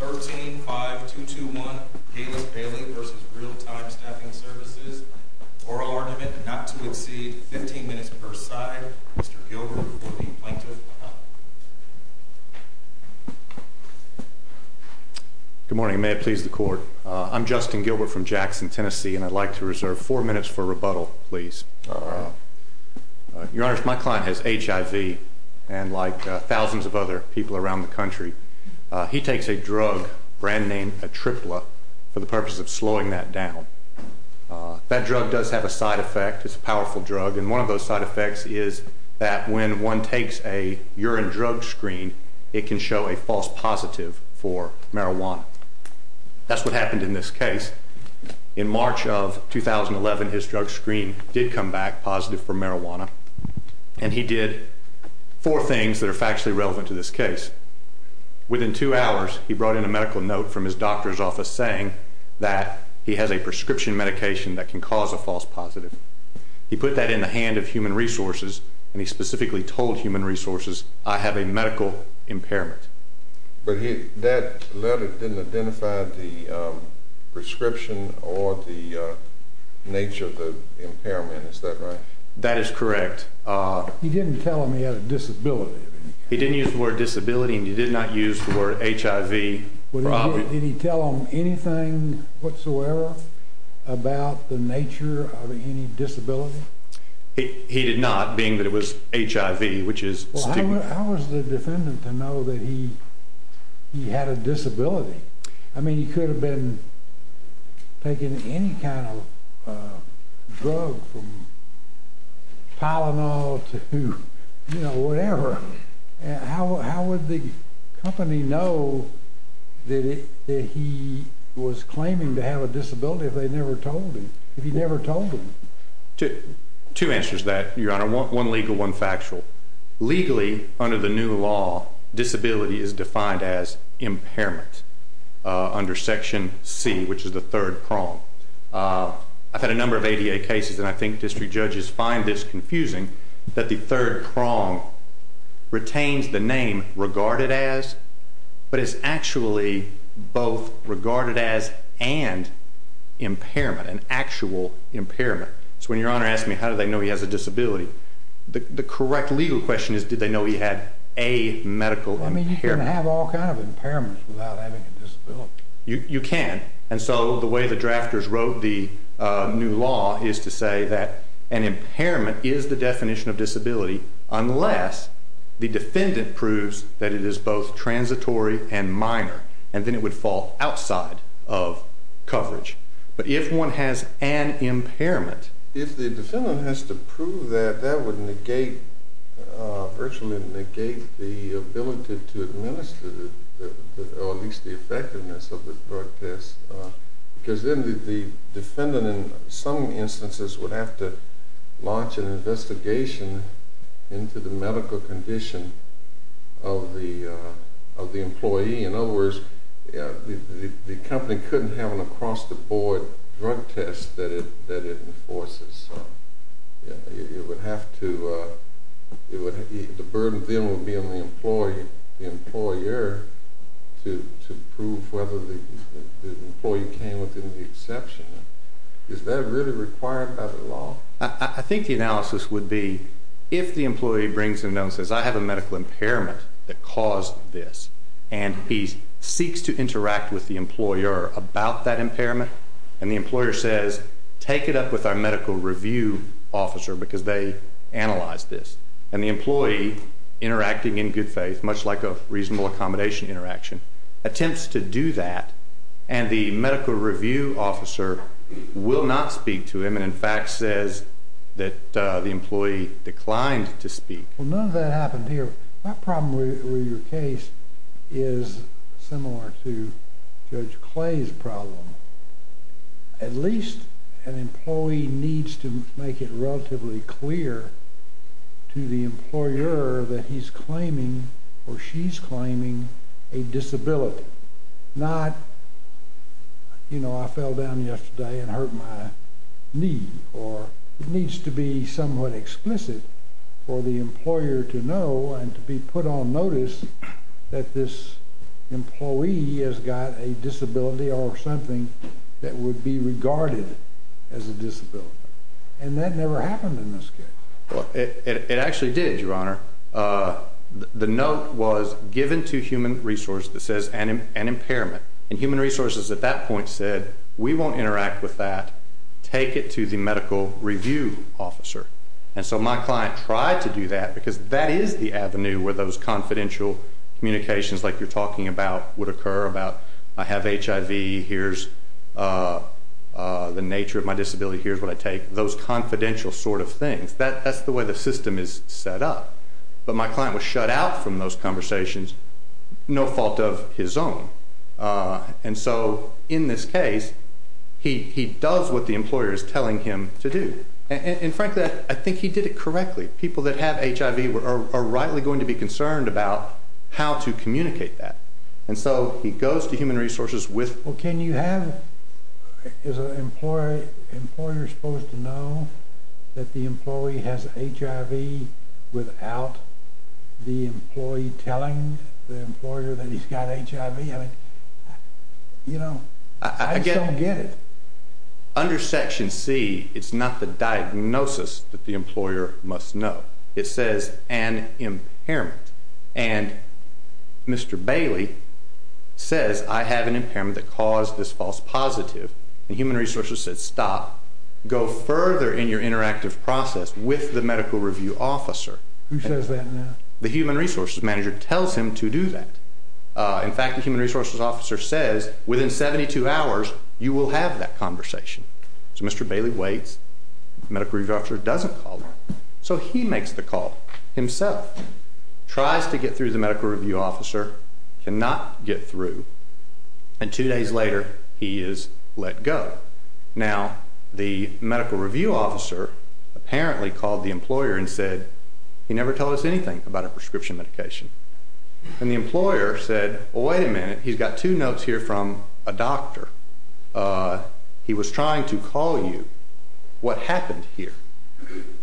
13-5-221 Gaylus Bailey v. Real Time Staffing Services Oral Argument not to exceed 15 minutes per side. Mr. Gilbert for the Plaintiff. Good morning. May it please the Court. I'm Justin Gilbert from Jackson, Tennessee, and I'd like to reserve 4 minutes for rebuttal, please. Your Honor, my client has HIV, and like thousands of other people around the country, he takes a drug, brand name Atripla, for the purpose of slowing that down. That drug does have a side effect. It's a powerful drug, and one of those side effects is that when one takes a urine drug screen, it can show a false positive for marijuana. That's what happened in this case. In March of 2011, his drug screen did come back positive for marijuana, and he did 4 things that are factually relevant to this case. Within 2 hours, he brought in a medical note from his doctor's office saying that he has a prescription medication that can cause a false positive. He put that in the hand of Human Resources, and he specifically told Human Resources, I have a medical impairment. But that letter didn't identify the prescription or the nature of the impairment, is that right? That is correct. He didn't tell him he had a disability. He didn't use the word disability, and he did not use the word HIV. Did he tell him anything whatsoever about the nature of any disability? He did not, being that it was HIV, which is stigma. How was the defendant to know that he had a disability? I mean, he could have been taking any kind of drug from Tylenol to, you know, whatever. How would the company know that he was claiming to have a disability if they never told him, if he never told them? Two answers to that, Your Honor. One legal, one factual. Legally, under the new law, disability is defined as impairment under Section C, which is the third prong. I've had a number of ADA cases, and I think district judges find this confusing, that the third prong retains the name regarded as, but is actually both regarded as and impairment, an actual impairment. So when Your Honor asked me, how do they know he has a disability? The correct legal question is, did they know he had a medical impairment? I mean, you can have all kinds of impairments without having a disability. You can. And so the way the drafters wrote the new law is to say that an impairment is the definition of disability, unless the defendant proves that it is both transitory and minor, and then it would fall outside of coverage. But if one has an impairment. If the defendant has to prove that, that would virtually negate the ability to administer, or at least the effectiveness of the drug test, because then the defendant in some instances would have to launch an investigation into the medical condition of the employee. In other words, the company couldn't have an across-the-board drug test that it enforces. It would have to, the burden then would be on the employee, the employer, to prove whether the employee came within the exception. Is that really required by the law? I think the analysis would be if the employee brings him down and says, I have a medical impairment that caused this, and he seeks to interact with the employer about that impairment, and the employer says, take it up with our medical review officer because they analyzed this. And the employee, interacting in good faith, much like a reasonable accommodation interaction, attempts to do that, and the medical review officer will not speak to him, and in fact says that the employee declined to speak. Well, none of that happened here. My problem with your case is similar to Judge Clay's problem. At least an employee needs to make it relatively clear to the employer that he's claiming or she's claiming a disability, not, you know, I fell down yesterday and hurt my knee, or it needs to be somewhat explicit for the employer to know and to be put on notice that this employee has got a disability or something that would be regarded as a disability. And that never happened in this case. Well, it actually did, Your Honor. The note was given to human resources that says an impairment, and human resources at that point said, we won't interact with that, take it to the medical review officer. And so my client tried to do that because that is the avenue where those confidential communications like you're talking about would occur, about I have HIV, here's the nature of my disability, here's what I take, those confidential sort of things. That's the way the system is set up. But my client was shut out from those conversations, no fault of his own. And so in this case, he does what the employer is telling him to do. And frankly, I think he did it correctly. People that have HIV are rightly going to be concerned about how to communicate that. And so he goes to human resources with them. Well, can you have, is an employer supposed to know that the employee has HIV without the employee telling the employer that he's got HIV? I mean, you know, I just don't get it. Under Section C, it's not the diagnosis that the employer must know. It says an impairment. And Mr. Bailey says, I have an impairment that caused this false positive. And human resources said, stop. Go further in your interactive process with the medical review officer. Who says that now? The human resources manager tells him to do that. In fact, the human resources officer says, within 72 hours, you will have that conversation. So Mr. Bailey waits. The medical review officer doesn't call him. So he makes the call himself. Tries to get through the medical review officer, cannot get through. And two days later, he is let go. Now, the medical review officer apparently called the employer and said, he never told us anything about a prescription medication. And the employer said, well, wait a minute. He's got two notes here from a doctor. He was trying to call you. What happened here?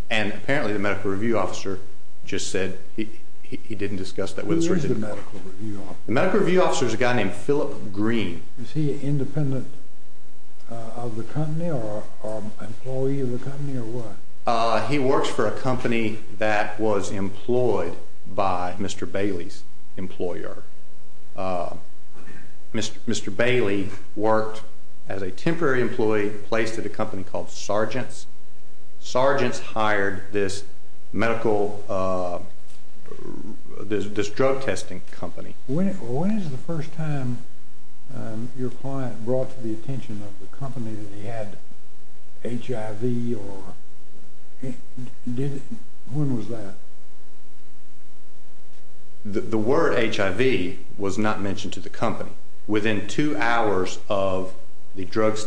And apparently the medical review officer just said he didn't discuss that with us. Who is the medical review officer? The medical review officer is a guy named Philip Green. Is he independent of the company or an employee of the company or what? He works for a company that was employed by Mr. Bailey's employer. Mr. Bailey worked as a temporary employee, placed at a company called Sargent's. Sargent's hired this medical, this drug testing company. When is the first time your client brought to the attention of the company that he had HIV or when was that? The word HIV was not mentioned to the company. Within two hours of the drug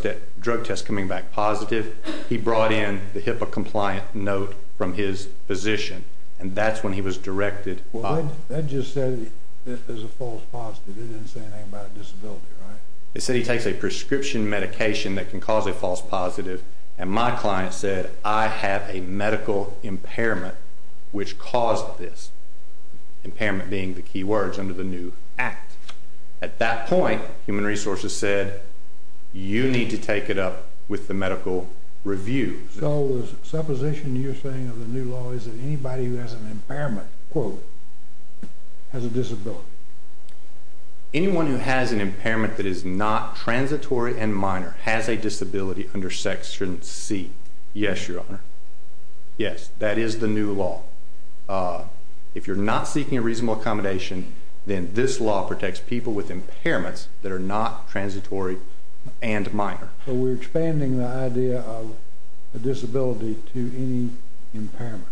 test coming back positive, he brought in the HIPAA compliant note from his physician. And that's when he was directed. Well, that just said it was a false positive. It didn't say anything about a disability, right? It said he takes a prescription medication that can cause a false positive. And my client said, I have a medical impairment which caused this. Impairment being the key words under the new act. At that point, Human Resources said, you need to take it up with the medical review. So the supposition you're saying of the new law is that anybody who has an impairment, quote, has a disability. Anyone who has an impairment that is not transitory and minor has a disability under Section C. Yes, Your Honor. Yes, that is the new law. If you're not seeking a reasonable accommodation, then this law protects people with impairments that are not transitory and minor. So we're expanding the idea of a disability to any impairment.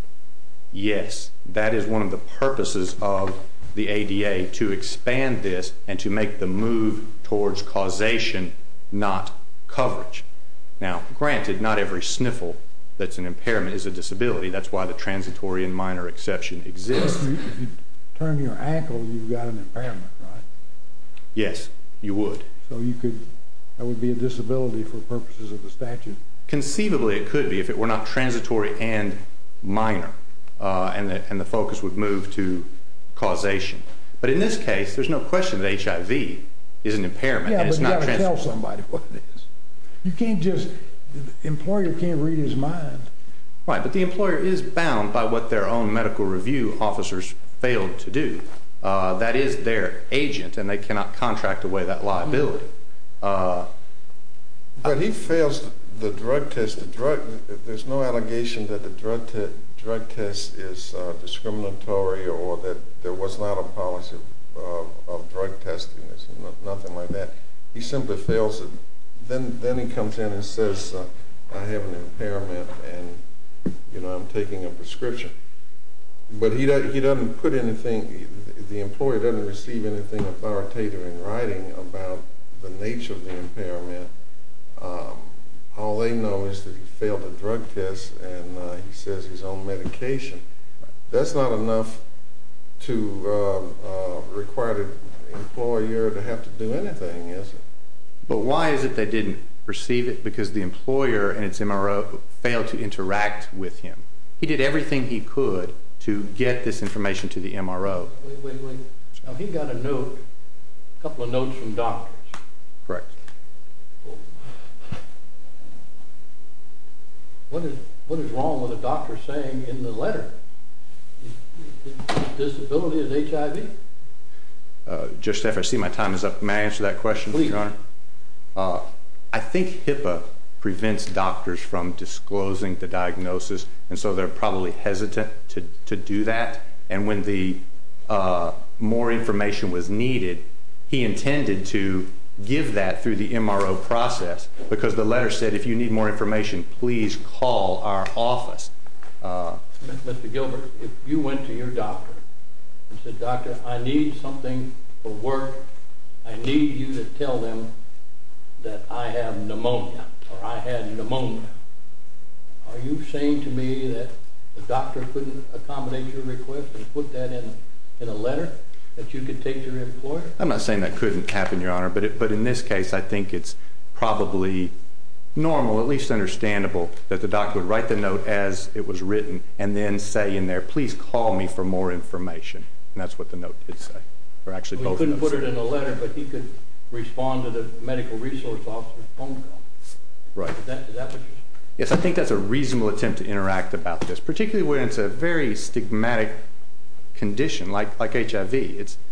Yes. That is one of the purposes of the ADA, to expand this and to make the move towards causation, not coverage. Now, granted, not every sniffle that's an impairment is a disability. That's why the transitory and minor exception exists. If you turn your ankle, you've got an impairment, right? Yes, you would. So that would be a disability for purposes of the statute. Conceivably, it could be if it were not transitory and minor and the focus would move to causation. But in this case, there's no question that HIV is an impairment and it's not transitory. Yeah, but you've got to tell somebody what it is. You can't just – the employer can't read his mind. Right, but the employer is bound by what their own medical review officers failed to do. That is their agent, and they cannot contract away that liability. But he fails the drug test. There's no allegation that the drug test is discriminatory or that there was not a policy of drug testing. There's nothing like that. He simply fails it. Then he comes in and says, I have an impairment and, you know, I'm taking a prescription. But he doesn't put anything – the employer doesn't receive anything authoritative in writing about the nature of the impairment. All they know is that he failed the drug test and he says he's on medication. That's not enough to require the employer to have to do anything, is it? But why is it they didn't receive it? Because the employer and its MRO failed to interact with him. He did everything he could to get this information to the MRO. Wait, wait, wait. Now, he got a note, a couple of notes from doctors. Correct. What is wrong with a doctor saying in the letter his disability is HIV? Just after I see my time is up, may I answer that question, Your Honor? Please. I think HIPAA prevents doctors from disclosing the diagnosis, and so they're probably hesitant to do that. And when more information was needed, he intended to give that through the MRO process because the letter said if you need more information, please call our office. Mr. Gilbert, if you went to your doctor and said, doctor, I need something for work, I need you to tell them that I have pneumonia or I had pneumonia, are you saying to me that the doctor couldn't accommodate your request and put that in a letter that you could take to your employer? I'm not saying that couldn't happen, Your Honor, but in this case I think it's probably normal, at least understandable, that the doctor would write the note as it was written and then say in there, please call me for more information. And that's what the note did say. He couldn't put it in a letter, but he could respond to the medical resource officer's phone call. Right. Is that what you're saying? Yes, I think that's a reasonable attempt to interact about this, particularly when it's a very stigmatic condition like HIV. It's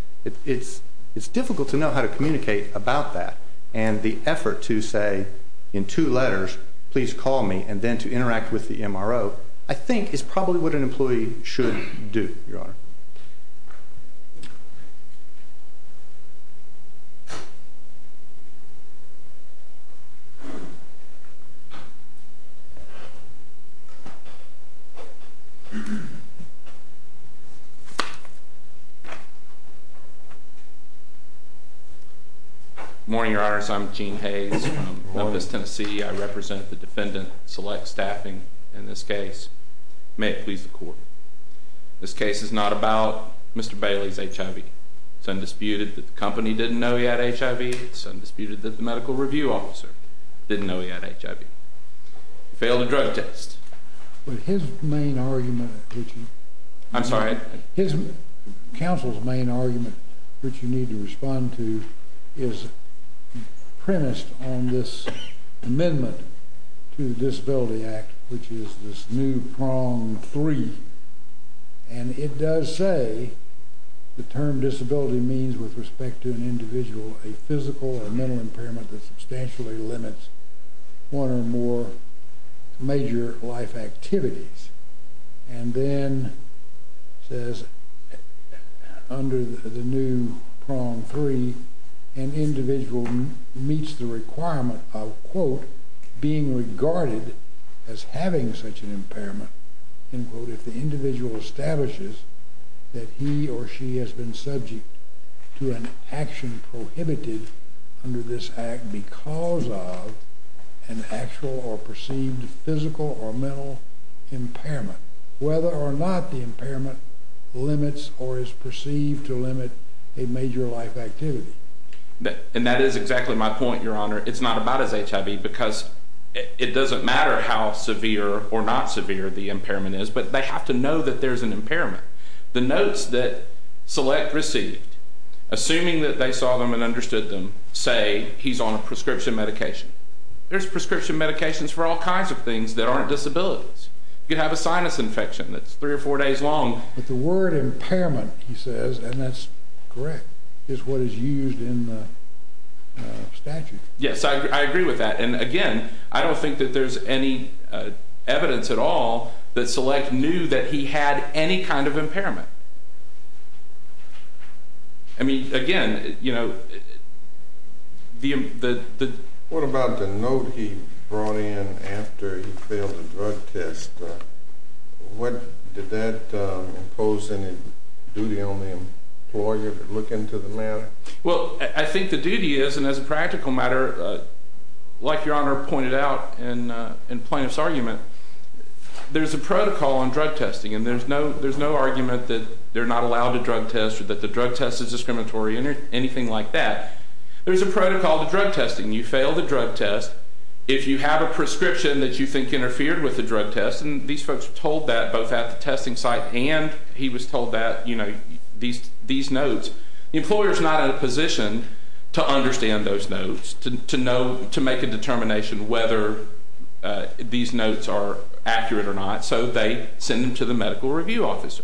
difficult to know how to communicate about that, and the effort to say in two letters, please call me, and then to interact with the MRO I think is probably what an employee should do, Your Honor. Thank you, Your Honor. Good morning, Your Honors. I'm Gene Hayes from Memphis, Tennessee. I represent the defendant, select staffing in this case. May it please the Court. This case is not about Mr. Bailey's HIV. It's undisputed that the company didn't know he had HIV. It's undisputed that the medical review officer didn't know he had HIV. He failed a drug test. But his main argument, which he... I'm sorry? His counsel's main argument, which you need to respond to, is premised on this amendment to the Disability Act, which is this new prong three, and it does say the term disability means with respect to an individual, a physical or mental impairment that substantially limits one or more major life activities, and then says under the new prong three, an individual meets the requirement of, quote, being regarded as having such an impairment, end quote, if the individual establishes that he or she has been subject to an action prohibited under this act because of an actual or perceived physical or mental impairment, whether or not the impairment limits or is perceived to limit a major life activity. And that is exactly my point, Your Honor. It's not about his HIV because it doesn't matter how severe or not severe the impairment is, but they have to know that there's an impairment. The notes that Select received, assuming that they saw them and understood them, say he's on a prescription medication. There's prescription medications for all kinds of things that aren't disabilities. You could have a sinus infection that's three or four days long. But the word impairment, he says, and that's correct, is what is used in the statute. Yes, I agree with that. And, again, I don't think that there's any evidence at all that Select knew that he had any kind of impairment. I mean, again, you know, the... What about the note he brought in after he failed a drug test? Did that impose any duty on the employer to look into the matter? Well, I think the duty is, and as a practical matter, like Your Honor pointed out in Plaintiff's argument, there's a protocol on drug testing, and there's no argument that they're not allowed to drug test or that the drug test is discriminatory or anything like that. There's a protocol to drug testing. You fail the drug test if you have a prescription that you think interfered with the drug test, and these folks were told that both at the testing site and he was told that, you know, these notes. The employer is not in a position to understand those notes, to make a determination whether these notes are accurate or not, so they send them to the medical review officer.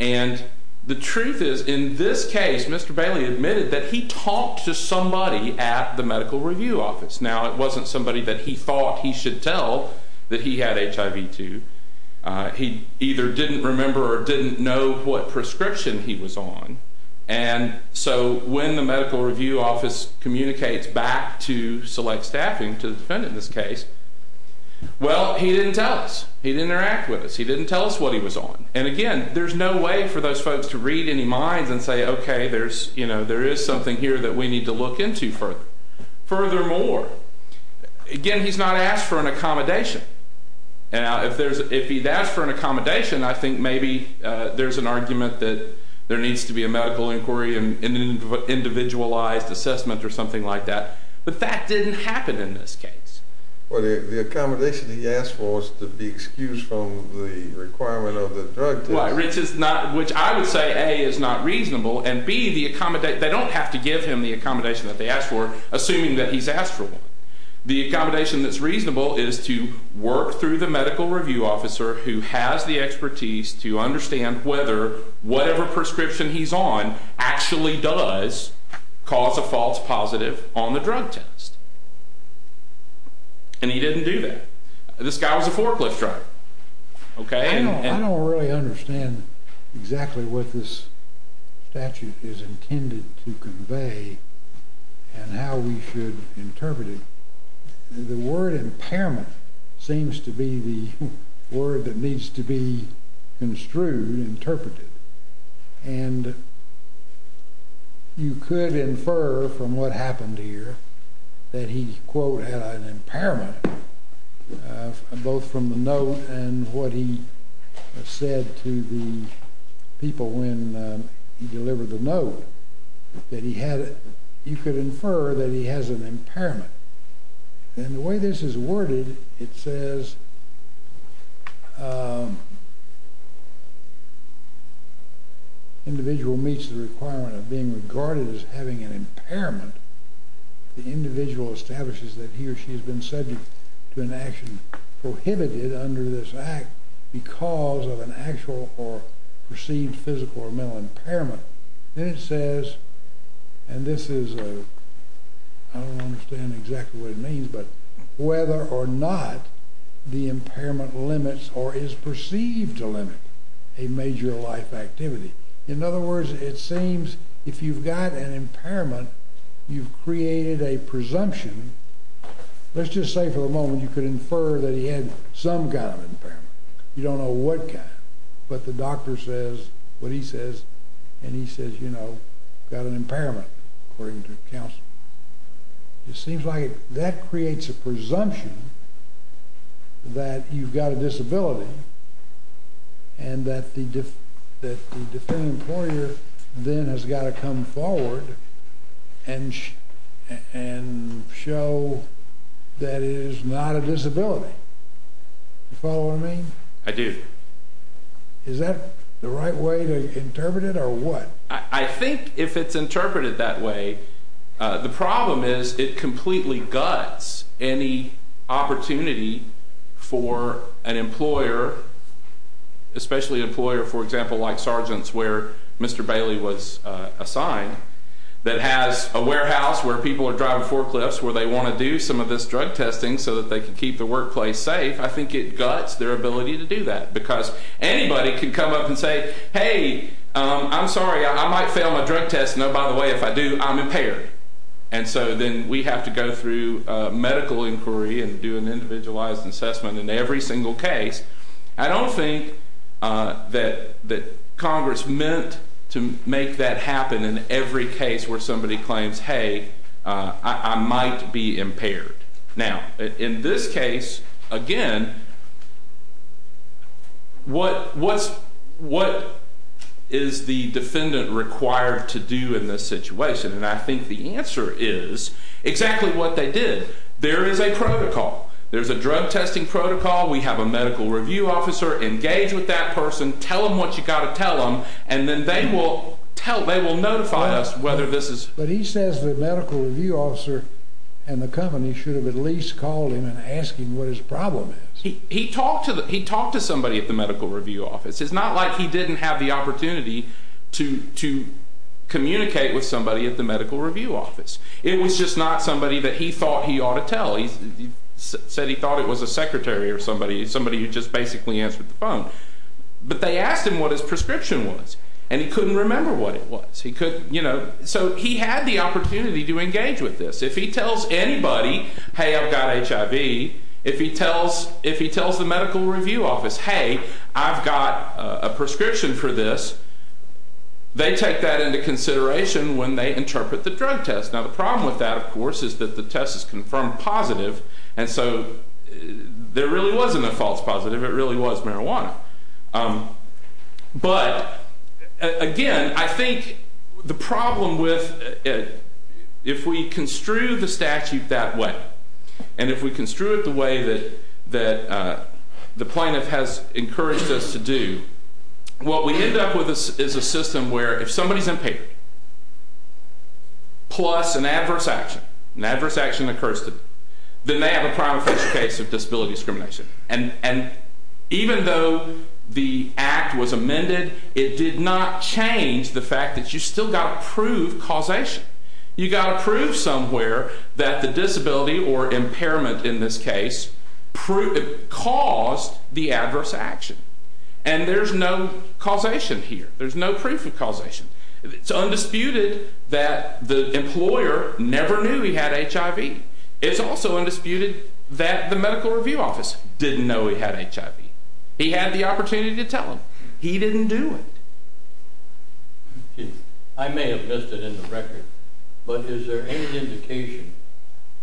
And the truth is, in this case, Mr. Bailey admitted that he talked to somebody at the medical review office. Now, it wasn't somebody that he thought he should tell that he had HIV to. He either didn't remember or didn't know what prescription he was on, and so when the medical review office communicates back to select staffing, to the defendant in this case, well, he didn't tell us. He didn't interact with us. He didn't tell us what he was on. And again, there's no way for those folks to read any minds and say, okay, there is something here that we need to look into further. Furthermore, again, he's not asked for an accommodation. Now, if he'd asked for an accommodation, I think maybe there's an argument that there needs to be a medical inquiry and an individualized assessment or something like that. But that didn't happen in this case. Well, the accommodation he asked for is to be excused from the requirement of the drug test. Which I would say, A, is not reasonable, and, B, they don't have to give him the accommodation that they asked for, assuming that he's asked for one. The accommodation that's reasonable is to work through the medical review officer who has the expertise to understand whether whatever prescription he's on actually does cause a false positive on the drug test. And he didn't do that. This guy was a forklift driver. Okay? And how we should interpret it. The word impairment seems to be the word that needs to be construed, interpreted. And you could infer from what happened here that he, quote, had an impairment, both from the note and what he said to the people when he delivered the note, that he had, you could infer that he has an impairment. And the way this is worded, it says, individual meets the requirement of being regarded as having an impairment. The individual establishes that he or she has been subject to an action prohibited under this act because of an actual or perceived physical or mental impairment. Then it says, and this is, I don't understand exactly what it means, but whether or not the impairment limits or is perceived to limit a major life activity. In other words, it seems if you've got an impairment, you've created a presumption. Let's just say for the moment you could infer that he had some kind of impairment. You don't know what kind. But the doctor says what he says. And he says, you know, got an impairment, according to counsel. It seems like that creates a presumption that you've got a disability and that the deferred employer then has got to come forward and show that it is not a disability. You follow what I mean? I do. Is that the right way to interpret it or what? I think if it's interpreted that way, the problem is it completely guts any opportunity for an employer, especially an employer, for example, like Sargent's where Mr. Bailey was assigned, that has a warehouse where people are driving forklifts where they want to do some of this drug testing so that they can keep the workplace safe. I think it guts their ability to do that because anybody can come up and say, hey, I'm sorry, I might fail my drug test. No, by the way, if I do, I'm impaired. And so then we have to go through medical inquiry and do an individualized assessment in every single case. I don't think that Congress meant to make that happen in every case where somebody claims, hey, I might be impaired. Now, in this case, again, what is the defendant required to do in this situation? And I think the answer is exactly what they did. There is a protocol. There's a drug testing protocol. We have a medical review officer engage with that person, tell them what you've got to tell them, and then they will notify us whether this is. But he says the medical review officer and the company should have at least called him and asked him what his problem is. He talked to somebody at the medical review office. It's not like he didn't have the opportunity to communicate with somebody at the medical review office. It was just not somebody that he thought he ought to tell. He said he thought it was a secretary or somebody who just basically answered the phone. But they asked him what his prescription was, and he couldn't remember what it was. So he had the opportunity to engage with this. If he tells anybody, hey, I've got HIV, if he tells the medical review office, hey, I've got a prescription for this, they take that into consideration when they interpret the drug test. Now, the problem with that, of course, is that the test is confirmed positive, and so there really wasn't a false positive. It really was marijuana. But, again, I think the problem with it, if we construe the statute that way, and if we construe it the way that the plaintiff has encouraged us to do, what we end up with is a system where if somebody is impaired plus an adverse action, an adverse action occurs to them, then they have a prima facie case of disability discrimination. And even though the act was amended, it did not change the fact that you've still got to prove causation. You've got to prove somewhere that the disability or impairment in this case caused the adverse action. And there's no causation here. There's no proof of causation. It's undisputed that the employer never knew he had HIV. It's also undisputed that the medical review office didn't know he had HIV. He had the opportunity to tell them. He didn't do it. I may have missed it in the record, but is there any indication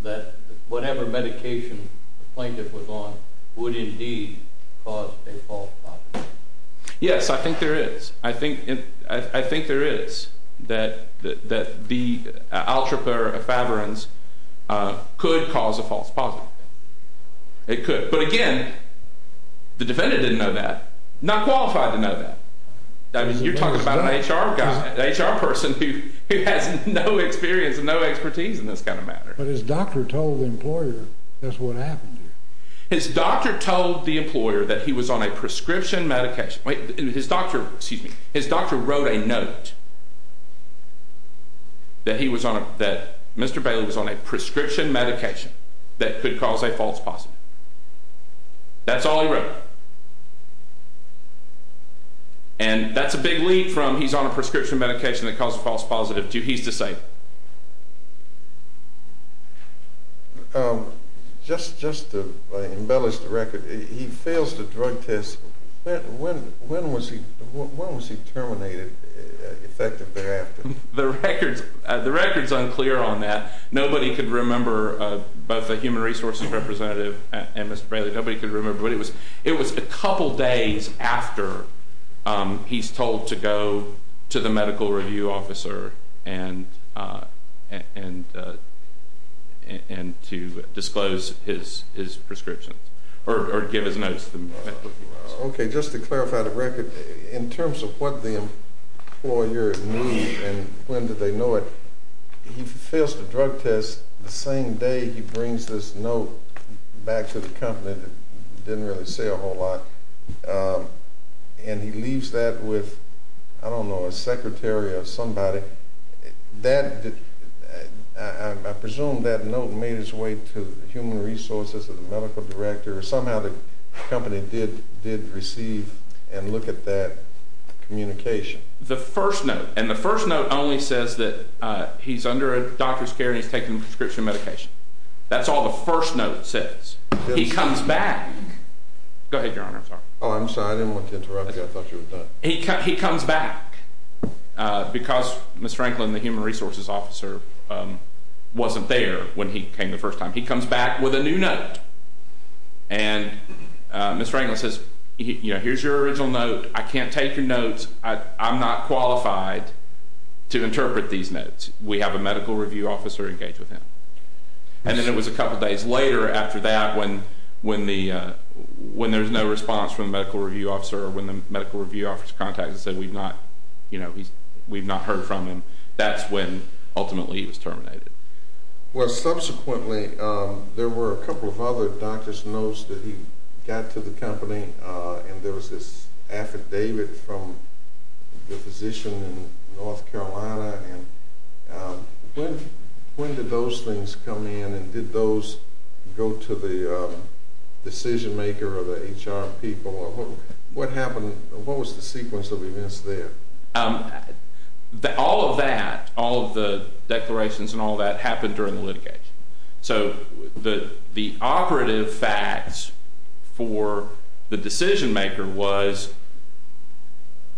that whatever medication the plaintiff was on would indeed cause a false positive? Yes, I think there is. I think there is. That the Altraperfavorens could cause a false positive. It could. But again, the defendant didn't know that. Not qualified to know that. You're talking about an HR guy, an HR person who has no experience and no expertise in this kind of matter. But his doctor told the employer that's what happened to him. His doctor told the employer that he was on a prescription medication. His doctor wrote a note that Mr. Bailey was on a prescription medication that could cause a false positive. That's all he wrote. And that's a big leap from he's on a prescription medication that causes a false positive to he's disabled. Just to embellish the record, he fails the drug test. When was he terminated effective thereafter? The record is unclear on that. Nobody could remember, both the human resources representative and Mr. Bailey, nobody could remember. But it was a couple days after he's told to go to the medical review officer and to disclose his prescriptions. Or give his notes to the medical review officer. Okay, just to clarify the record, in terms of what the employer knew and when did they know it, he fails the drug test the same day he brings this note back to the company that didn't really say a whole lot. And he leaves that with, I don't know, a secretary or somebody. I presume that note made its way to the human resources or the medical director. Somehow the company did receive and look at that communication. The first note, and the first note only says that he's under a doctor's care and he's taking prescription medication. That's all the first note says. He comes back. Go ahead, Your Honor. I'm sorry, I didn't want to interrupt you. I thought you were done. He comes back because Ms. Franklin, the human resources officer, wasn't there when he came the first time. He comes back with a new note. And Ms. Franklin says, here's your original note. I can't take your notes. I'm not qualified to interpret these notes. We have a medical review officer engage with him. And then it was a couple days later after that when there's no response from the medical review officer or when the medical review officer contacts and says we've not heard from him, that's when ultimately he was terminated. Well, subsequently there were a couple of other doctor's notes that he got to the company, and there was this affidavit from the physician in North Carolina. And when did those things come in? And did those go to the decision maker or the HR people? What happened? What was the sequence of events there? All of that, all of the declarations and all that, happened during the litigation. So the operative facts for the decision maker was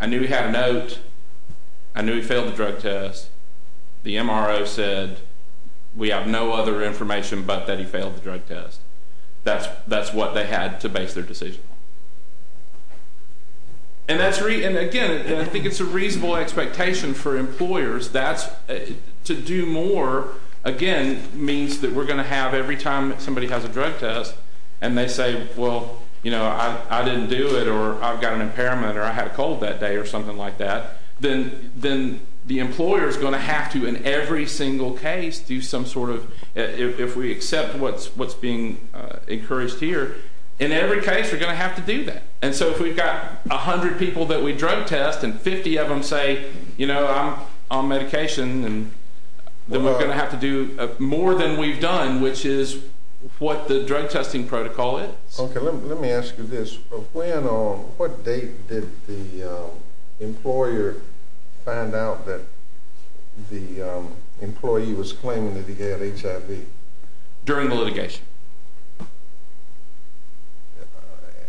I knew he had a note. I knew he failed the drug test. The MRO said we have no other information but that he failed the drug test. That's what they had to base their decision. And, again, I think it's a reasonable expectation for employers. To do more, again, means that we're going to have every time somebody has a drug test and they say, well, you know, I didn't do it or I've got an impairment or I had a cold that day or something like that, then the employer is going to have to in every single case do some sort of, if we accept what's being encouraged here, in every case we're going to have to do that. And so if we've got 100 people that we drug test and 50 of them say, you know, I'm on medication, then we're going to have to do more than we've done, which is what the drug testing protocol is. Okay, let me ask you this. When or what date did the employer find out that the employee was claiming that he had HIV? During the litigation.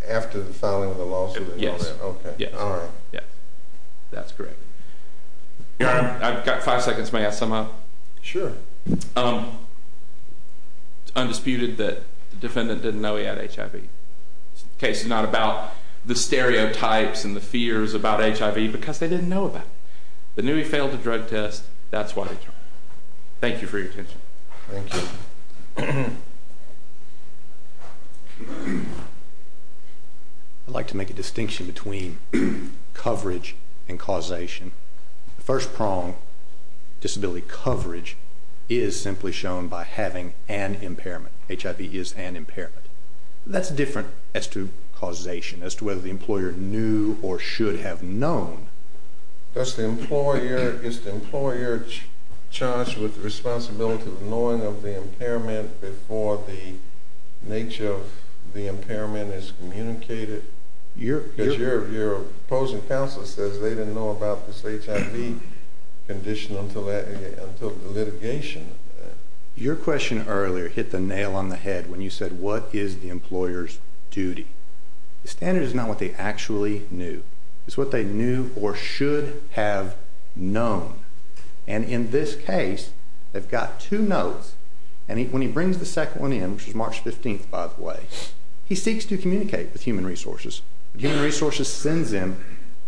After the filing of the lawsuit? Yes. Okay. Yes. All right. Yes. That's correct. I've got five seconds. May I sum up? Sure. It's undisputed that the defendant didn't know he had HIV. The case is not about the stereotypes and the fears about HIV because they didn't know about it. They knew he failed the drug test. That's why they tried. Thank you for your attention. Thank you. I'd like to make a distinction between coverage and causation. The first prong, disability coverage, is simply shown by having an impairment. HIV is an impairment. That's different as to causation, as to whether the employer knew or should have known. Is the employer charged with the responsibility of knowing of the impairment before the nature of the impairment is communicated? Your opposing counsel says they didn't know about this HIV condition until the litigation. Your question earlier hit the nail on the head when you said, what is the employer's duty? The standard is not what they actually knew. It's what they knew or should have known. And in this case, they've got two notes, and when he brings the second one in, which was March 15th, by the way, he seeks to communicate with Human Resources. Human Resources sends him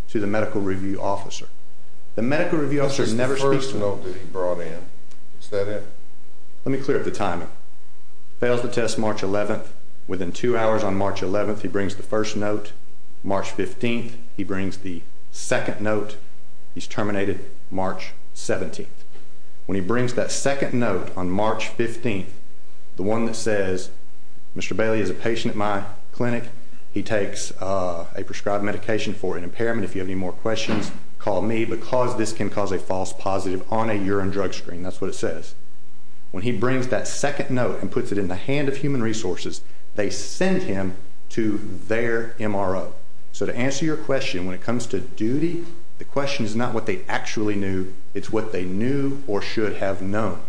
to the medical review officer. The medical review officer never speaks to him. This is the first note that he brought in. Is that it? Let me clear up the timing. Fails the test March 11th. Within two hours on March 11th, he brings the first note. March 15th, he brings the second note. He's terminated March 17th. When he brings that second note on March 15th, the one that says, Mr. Bailey is a patient at my clinic. He takes a prescribed medication for an impairment. If you have any more questions, call me because this can cause a false positive on a urine drug screen. That's what it says. When he brings that second note and puts it in the hand of Human Resources, they send him to their MRO. So to answer your question, when it comes to duty, the question is not what they actually knew. It's what they knew or should have known.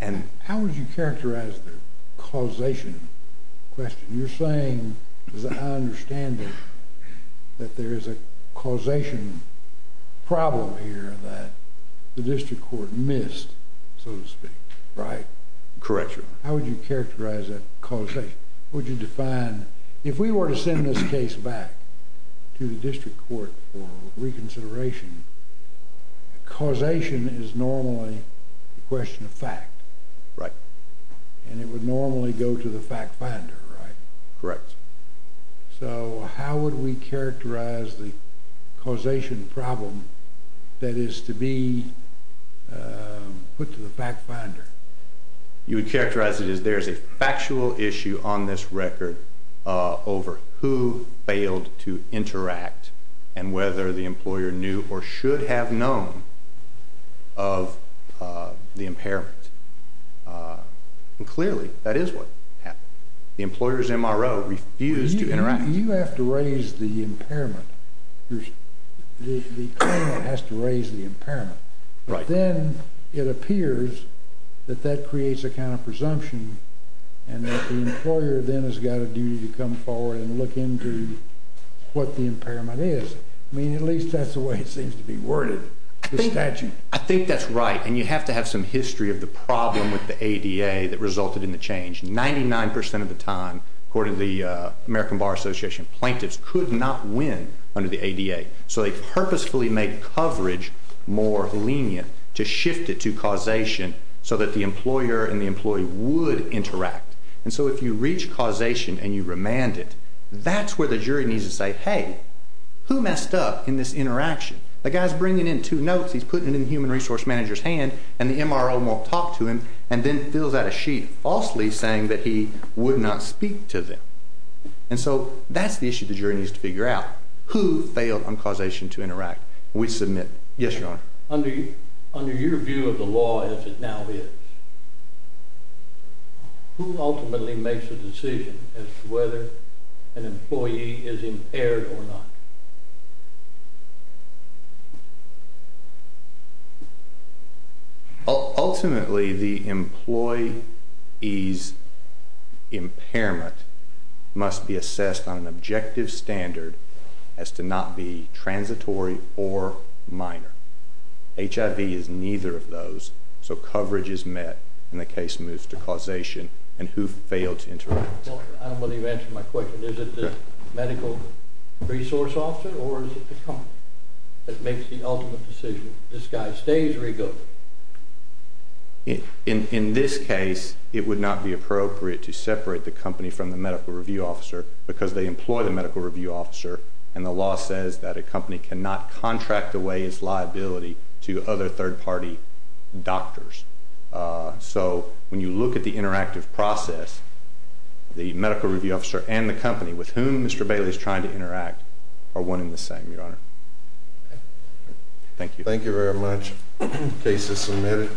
And how would you characterize the causation question? You're saying, as I understand it, that there is a causation problem here that the district court missed, so to speak, right? Correct, Your Honor. How would you characterize that causation? What would you define? If we were to send this case back to the district court for reconsideration, causation is normally a question of fact. Right. And it would normally go to the fact finder, right? Correct. So how would we characterize the causation problem that is to be put to the fact finder? You would characterize it as there is a factual issue on this record over who failed to interact and whether the employer knew or should have known of the impairment. Clearly, that is what happened. The employer's MRO refused to interact. You have to raise the impairment. The claimant has to raise the impairment. Right. But then it appears that that creates a kind of presumption and that the employer then has got a duty to come forward and look into what the impairment is. I mean, at least that's the way it seems to be worded in the statute. I think that's right. And you have to have some history of the problem with the ADA that resulted in the change. Ninety-nine percent of the time, according to the American Bar Association, plaintiffs could not win under the ADA. So they purposefully made coverage more lenient to shift it to causation so that the employer and the employee would interact. And so if you reach causation and you remand it, that's where the jury needs to say, hey, who messed up in this interaction? The guy's bringing in two notes, he's putting it in the human resource manager's hand, and the MRO won't talk to him and then fills out a sheet falsely saying that he would not speak to them. And so that's the issue the jury needs to figure out. Who failed on causation to interact? We submit. Yes, Your Honor. Under your view of the law as it now is, who ultimately makes a decision as to whether an employee is impaired or not? Ultimately, the employee's impairment must be assessed on an objective standard as to not be transitory or minor. HIV is neither of those, so coverage is met and the case moves to causation. And who failed to interact? I don't know whether you answered my question. Is it the medical resource officer or is it the company that makes the ultimate decision? This guy stays or he goes? In this case, it would not be appropriate to separate the company from the medical review officer because they employ the medical review officer, and the law says that a company cannot contract away its liability to other third-party doctors. So when you look at the interactive process, the medical review officer and the company with whom Mr. Bailey is trying to interact are one and the same, Your Honor. Thank you. Thank you very much. Case is submitted.